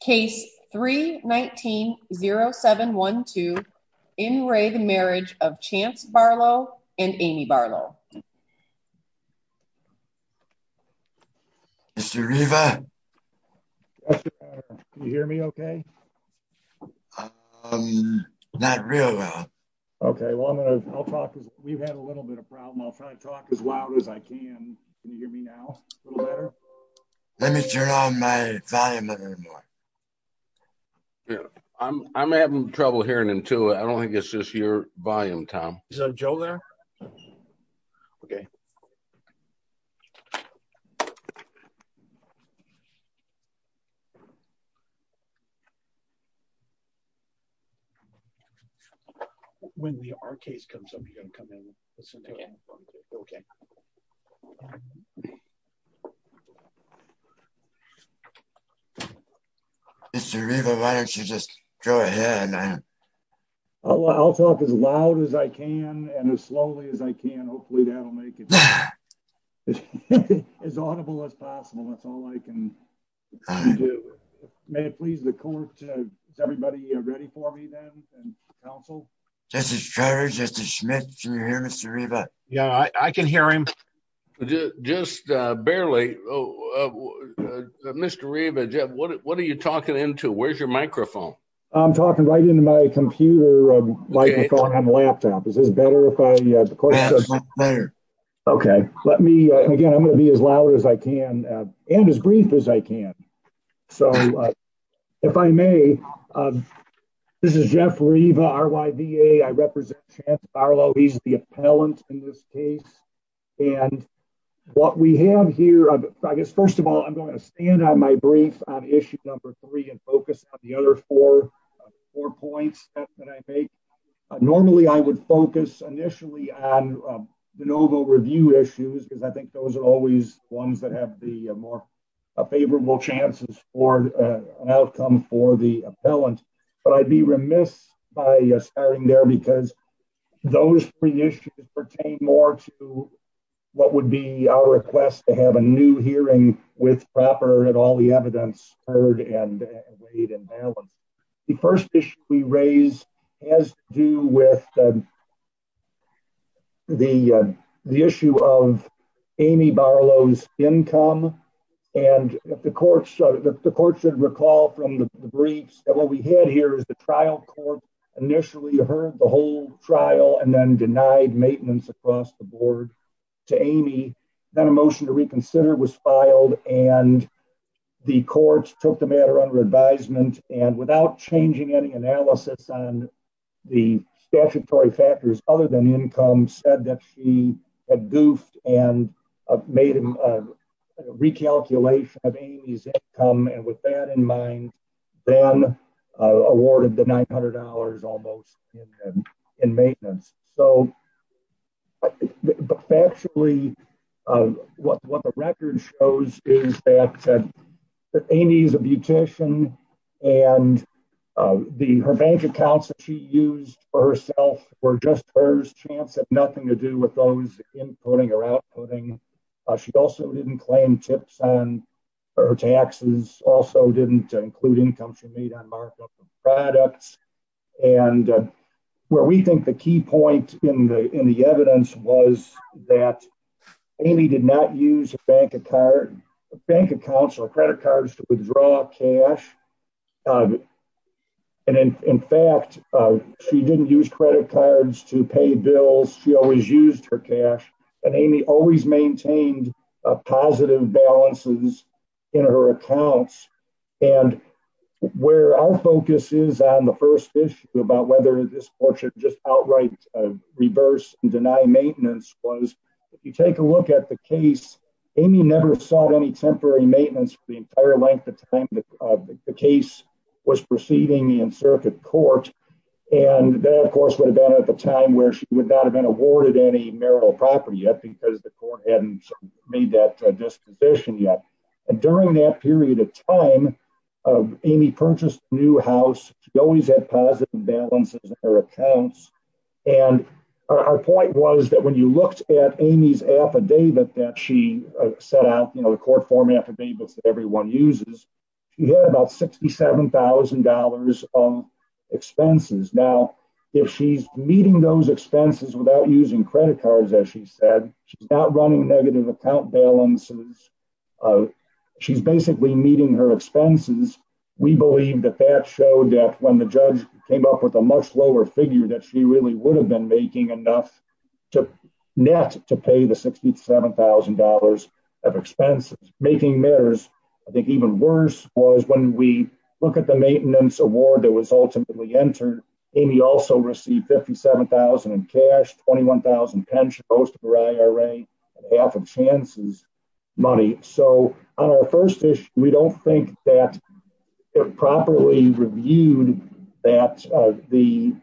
Case 319-0712, in re the marriage of Chance Barlow and Amy Barlow. Mr. Reva? Yes, your honor. Can you hear me okay? Um, not real well. Okay, well I'm gonna, I'll talk as, we've had a little bit of problem, I'll try to talk as loud as I can. Can you hear me now? A little better? Let me turn on my volume a little more. Yeah, I'm having trouble hearing him too. I don't think it's just your volume Tom. Is Joe there? Okay. Okay. When we are case comes up you can come in. Okay. Okay. Mr Reva, why don't you just go ahead. I'll talk as loud as I can and as slowly as I can hopefully that'll make it as audible as possible. That's all I can do. May it please the court. Everybody ready for me then, and counsel. This is Travis, this is Smith. Yeah, I can hear him. Just barely. Mr Reva, what are you talking into where's your microphone. I'm talking right into my computer. Is this better. Okay, let me again I'm going to be as loud as I can, and as brief as I can. So, if I may. This is Jeff Reva RYVA I represent Charles Barlow he's the appellant in this case. And what we have here, I guess first of all I'm going to stand on my brief on issue number three and focus on the other four, four points that I make. Normally I would focus initially on the noble review issues because I think those are always ones that have the more favorable chances for an outcome for the appellant, but I'd be remiss by starting there because those three issues pertain more to what would be our request to have a new hearing with proper and all the evidence heard and weighed and balanced. The first issue we raise has to do with the, the issue of Amy Barlow's income. And if the courts, the courts should recall from the briefs that what we had here is the trial court initially heard the whole trial and then denied maintenance across the board to Amy, then a motion to reconsider was filed, and the courts took the matter and without changing any analysis on the statutory factors, other than income said that she had goofed and made a recalculation of Amy's income and with that in mind, then awarded the $900 almost in maintenance. So, but actually what the record shows is that Amy's a beautician and the, her bank accounts that she used for herself were just hers, chance had nothing to do with those inputting or outputting. She also didn't claim tips on her taxes, also didn't include income she made on markup of products. And where we think the key point in the, in the evidence was that Amy did not use a bank account or credit cards to withdraw cash. And in fact, she didn't use credit cards to pay bills, she always used her cash, and Amy always maintained a positive balances in her accounts. And where our focus is on the first issue about whether this court should just outright reverse and deny maintenance was, if you take a look at the case, Amy never sought any temporary maintenance for the entire length of time that the case was proceeding in circuit court. And that of course would have been at the time where she would not have been awarded any marital property yet because the court hadn't made that disposition yet. And during that period of time, Amy purchased a new house, she always had positive balances in her accounts. And our point was that when you looked at Amy's affidavit that she set out, you know, the court format for people that everyone uses, you had about $67,000 of expenses. Now, if she's meeting those expenses without using credit cards, as she said, she's not running negative account balances. She's basically meeting her expenses. We believe that that showed that when the judge came up with a much lower figure that she really would have been making enough to net to pay the $67,000 of expenses. Making matters, I think, even worse was when we look at the maintenance award that was ultimately entered, Amy also received $57,000 in cash, $21,000 pension, most of her IRA, and half of Chance's money. So on our first issue, we don't think that it properly reviewed that the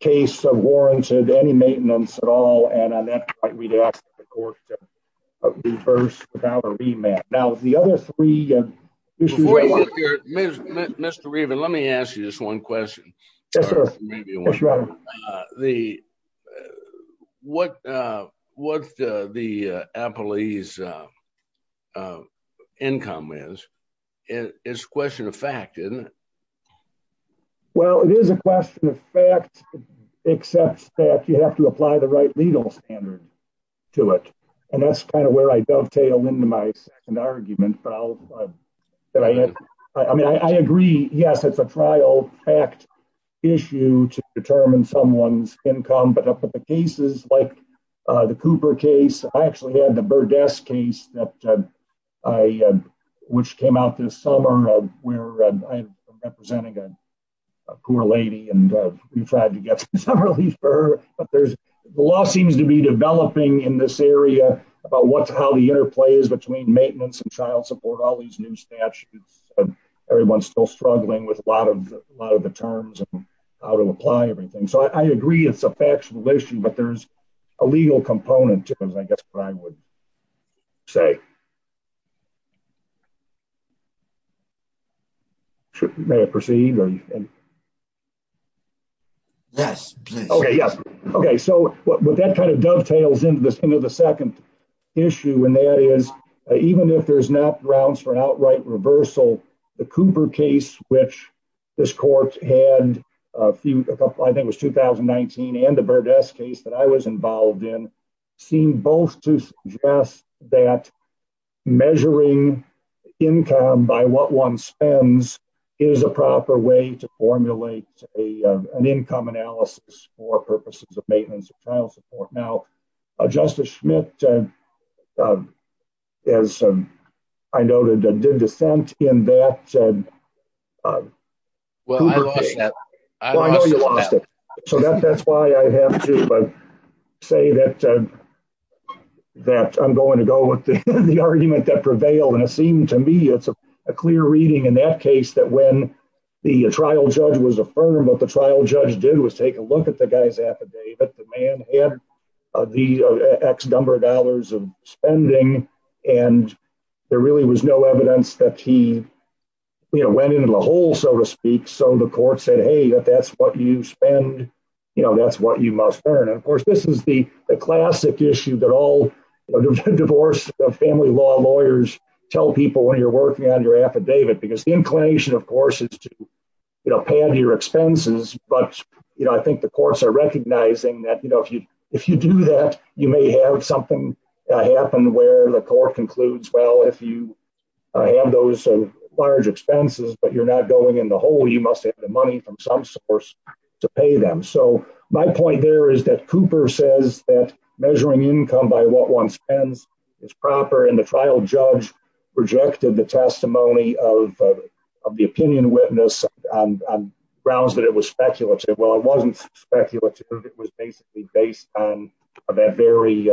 case of warranted any maintenance at all. And on that point, we'd ask the court to reverse our remand. Now, the other three issues... Mr. Reaven, let me ask you this one question. Yes, sir. What the appellee's income is, it's a question of fact, isn't it? Well, it is a question of fact, except that you have to apply the right legal standard to it. And that's kind of where I dovetail into my second argument. I mean, I agree. Yes, it's a trial fact issue to determine someone's income, but the cases like the Cooper case, I actually had the Burdess case, which came out this summer, where I'm representing a poor lady and we tried to get some relief for her. The law seems to be developing in this area about how the interplay is between maintenance and child support, all these new statutes, and everyone's still struggling with a lot of the terms and how to apply everything. So I agree it's a factual issue, but there's a legal component to it, I guess, what I would say. May I proceed? Yes, please. Okay, so what that kind of dovetails into the second issue, and that is, even if there's not grounds for an outright reversal, the Cooper case, which this court had, I think it was 2019, and the Burdess case that I was involved in, seem both to suggest that measuring income by what one spends is a proper way to formulate an income analysis for purposes of maintenance and child support. Now, Justice Schmidt, as I noted, did dissent in that Cooper case. Well, I lost that. So that's why I have to say that I'm going to go with the argument that prevailed, and it seemed to me it's a clear reading in that case that when the trial judge was affirmed, what the trial judge did was take a look at the guy's affidavit. The man had the X number of dollars of spending, and there really was no evidence that he went into the hole, so to speak. So the court said, hey, if that's what you spend, that's what you must earn. And of course, this is the classic issue that all divorce family law lawyers tell people when you're working on your affidavit, because the inclination, of course, is to pay out your expenses. But I think the courts are recognizing that if you do that, you may have something happen where the court concludes, well, if you have those large expenses, but you're not going in the hole, you must have the money from some source to pay them. So my point there is that Cooper says that measuring income by what one spends is proper, and the trial judge rejected the testimony of the opinion witness on grounds that it was speculative. Well, it wasn't speculative. It was basically based on that very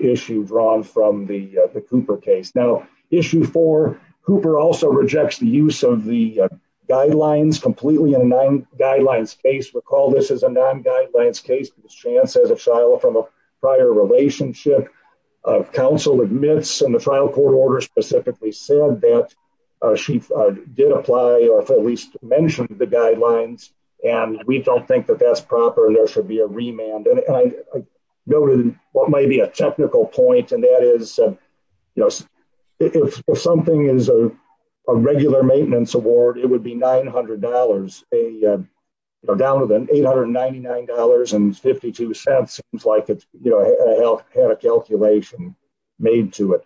issue drawn from the Cooper case. Now, issue four, Cooper also rejects the use of the guidelines completely in a non-guidelines case. Recall, this is a non-guidelines case. Chance, as a trial from a prior relationship, counsel admits in the trial court order specifically said that she did apply, or at least mentioned the guidelines, and we don't think that that's proper. There should be a remand, and I go to what might be a technical point, and that is, you know, if something is a regular maintenance award, it would be $900. Down to $899.52. Seems like it had a calculation made to it.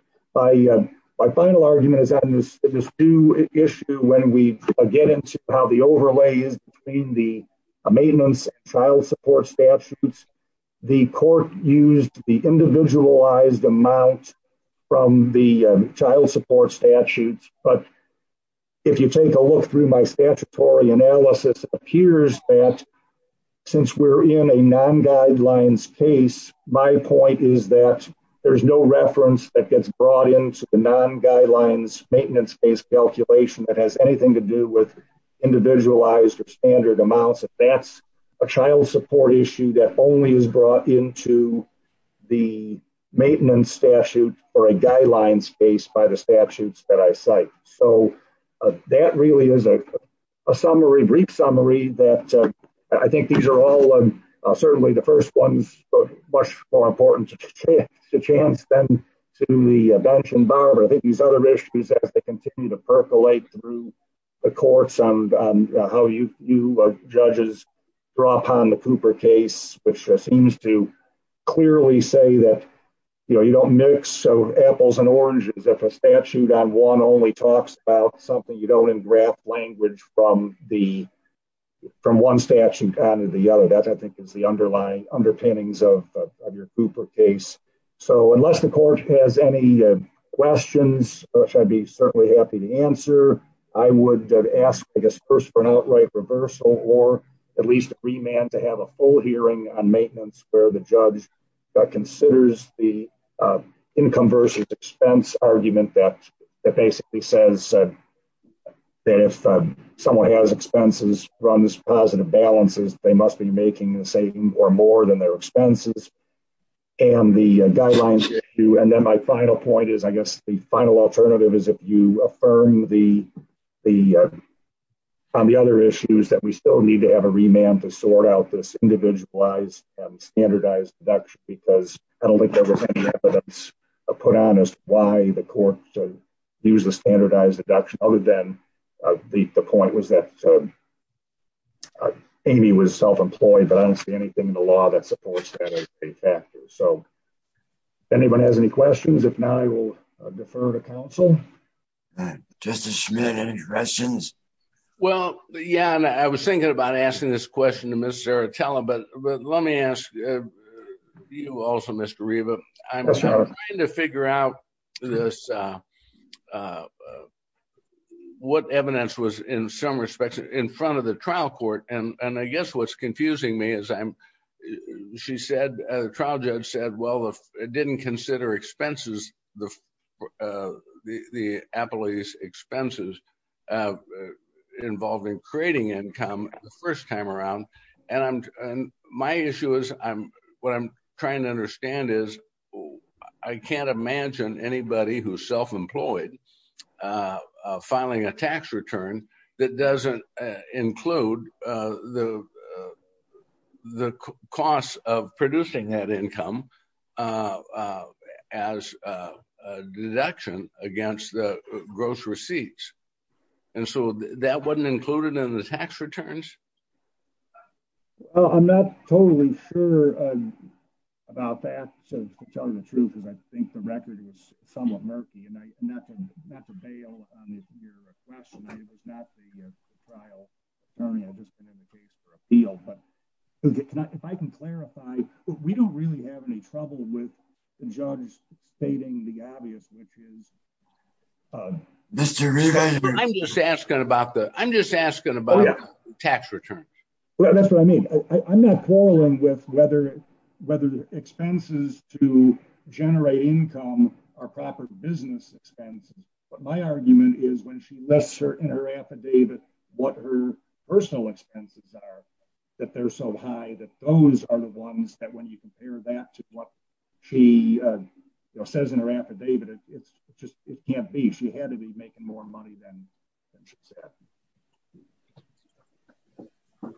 My final argument is on this issue when we get into how the overlay is between the maintenance and child support statutes. The court used the individualized amount from the child support statutes, but if you take a look through my statutory analysis, it appears that since we're in a non-guidelines case, my point is that there's no reference that gets brought into the non-guidelines maintenance-based calculation that has anything to do with individualized or standard amounts. That's a child support issue that only is brought into the maintenance statute or a guidelines case by the statutes that I cite. That really is a brief summary. I think these are all certainly the first ones, much more important to chance than to the bench and barber. I think these other issues, as they continue to percolate through the courts on how you, judges, draw upon the Cooper case, which seems to clearly say that, you know, you don't mix apples and oranges. If a statute on one only talks about something, you don't engraft language from one statute on to the other. That, I think, is the underlying underpinnings of your Cooper case. So, unless the court has any questions, which I'd be certainly happy to answer, I would ask, I guess, first for an outright reversal or at least a remand to have a full hearing on maintenance where the judge considers the income versus expense argument that basically says that if someone has expenses, runs positive balances, they must be making the same or more than their expenses. And the guidelines issue, and then my final point is, I guess, the final alternative is if you affirm the other issues that we still need to have a remand to sort out this individualized and standardized deduction because I don't think there was any evidence put on as to why the court used the standardized deduction other than the point was that Amy was self-employed, but I don't see anything in the law that supports that as a factor. So, if anyone has any questions, if not, I will defer to counsel. Justice Schmitt, any questions? Well, yeah, and I was thinking about asking this question to Ms. Zaratella, but let me ask you also, Mr. Riva. I'm trying to figure out what evidence was, in some respects, in front of the trial court, and I guess what's confusing me is she said, the trial judge said, well, it didn't consider expenses, the appellee's expenses. Involving creating income the first time around, and my issue is what I'm trying to understand is I can't imagine anybody who's self-employed filing a tax return that doesn't include the costs of producing that income as a deduction against the gross receipts. And so, that wasn't included in the tax returns? Well, I'm not totally sure about that, to tell you the truth, because I think the record is somewhat murky, and not to bail on your question, it was not the trial attorney, I've just been in the case for appeal, but if I can clarify, we don't really have any trouble with the judge stating the obvious, which is Mr. Riva, I'm just asking about the, I'm just asking about tax returns. That's what I mean. I'm not quarreling with whether expenses to generate income are proper business expenses, but my argument is when she lists in her affidavit what her personal expenses are, that they're so high that those are the ones that when you compare that to what she says in her affidavit, it can't be. She had to be making more money than she said. All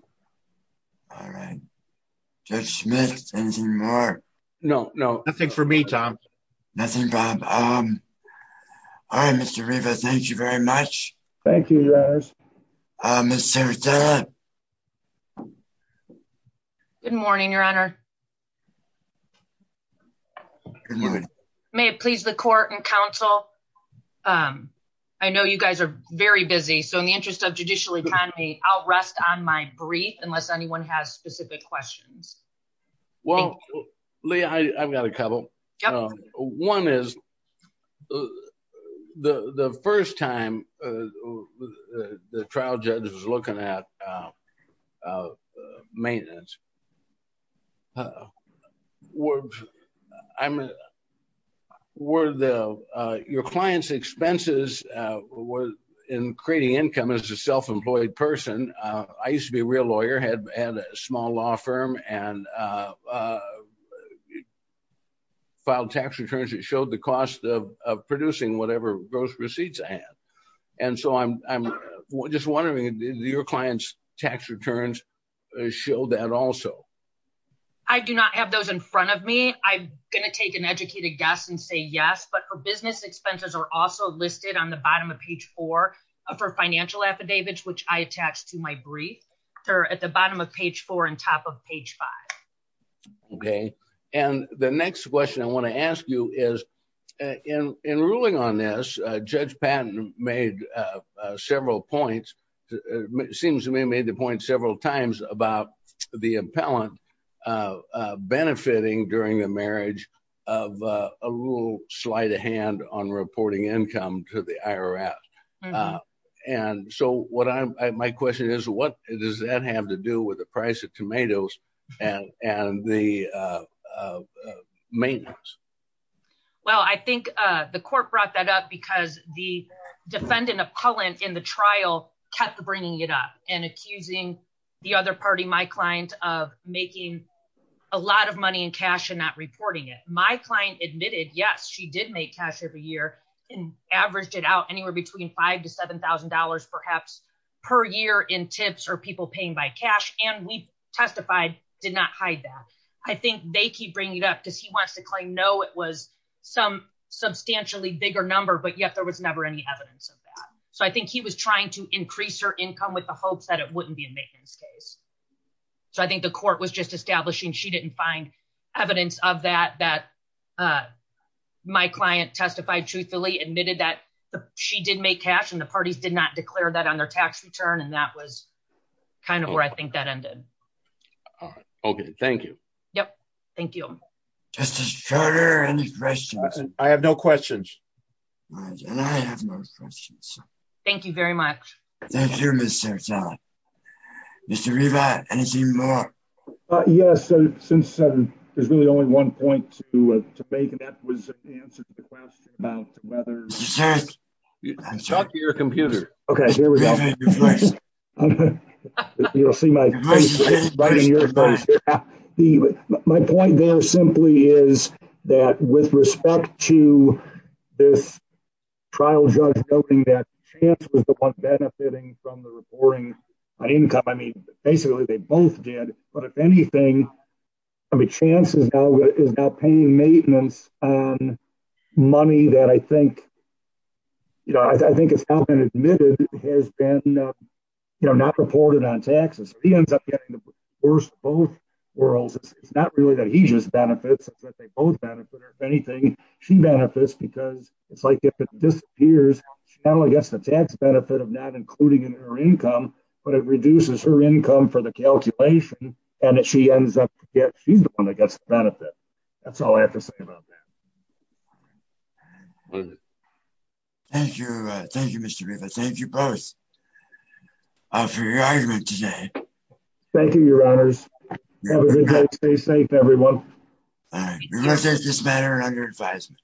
right. Judge Smith, anything more? No, no, nothing for me, Tom. Nothing, Bob. All right, Mr. Riva, thank you very much. Thank you, guys. Ms. Serratella. Good morning, Your Honor. May it please the court and counsel. I know you guys are very busy. So in the interest of judicial economy, I'll rest on my brief unless anyone has specific questions. Well, Leah, I've got a couple. One is the first time the trial judge was looking at maintenance. Your client's expenses were in creating income as a self-employed person. I used to be a real lawyer, had a small law firm and filed tax returns that showed the cost of producing whatever gross receipts I had. And so I'm just wondering, did your client's tax returns show that also? I do not have those in front of me. I'm going to take an educated guess and say yes. But her business expenses are also listed on the bottom of page four of her financial affidavits, which I attached to my brief. They're at the bottom of page four and top of page five. Okay. And the next question I want to ask you is in ruling on this, Judge Patton made several points. It seems to me he made the point several times about the appellant benefiting during the marriage of a little slight of hand on reporting income to the IRS. And so my question is, what does that have to do with the price of tomatoes and the maintenance? Well, I think the court brought that up because the defendant appellant in the trial kept bringing it up and accusing the other party, my client, of making a lot of money in cash and not reporting it. My client admitted, yes, she did make cash every year and averaged it out anywhere between five to seven thousand dollars perhaps per year in tips or people paying by cash. And we testified, did not hide that. I think they keep bringing it up because he wants to claim, no, it was some substantially bigger number, but yet there was never any evidence of that. So I think he was trying to increase her income with the hopes that it wouldn't be a maintenance case. So I think the court was just establishing she didn't find evidence of that, that my client testified truthfully, admitted that she did make cash and the parties did not declare that on their tax return. And that was kind of where I think that ended. OK, thank you. Yep. Thank you. Justice Schroeder, any questions? I have no questions. And I have no questions. Thank you very much. Thank you, Mr. Mr. Yes. Since there's really only one point to make and that was the answer to the question about whether your computer. Okay, here we go. Right. My point there simply is that with respect to this trial judge noting that chance was the one benefiting from the reporting income. I mean, basically, they both did. But if anything. I mean, chances is not paying maintenance on money that I think. You know, I think it's been admitted has been not reported on taxes, he ends up getting the worst both worlds. It's not really that he just benefits that they both benefit or anything. She benefits because it's like if it disappears. I guess the tax benefit of not including in her income, but it reduces her income for the calculation. And she ends up. She's the one that gets the benefit. That's all I have to say about that. Thank you. Thank you, Mr. Thank you both for your argument today. Thank you, Your Honors. Stay safe, everyone. This matter under advisement.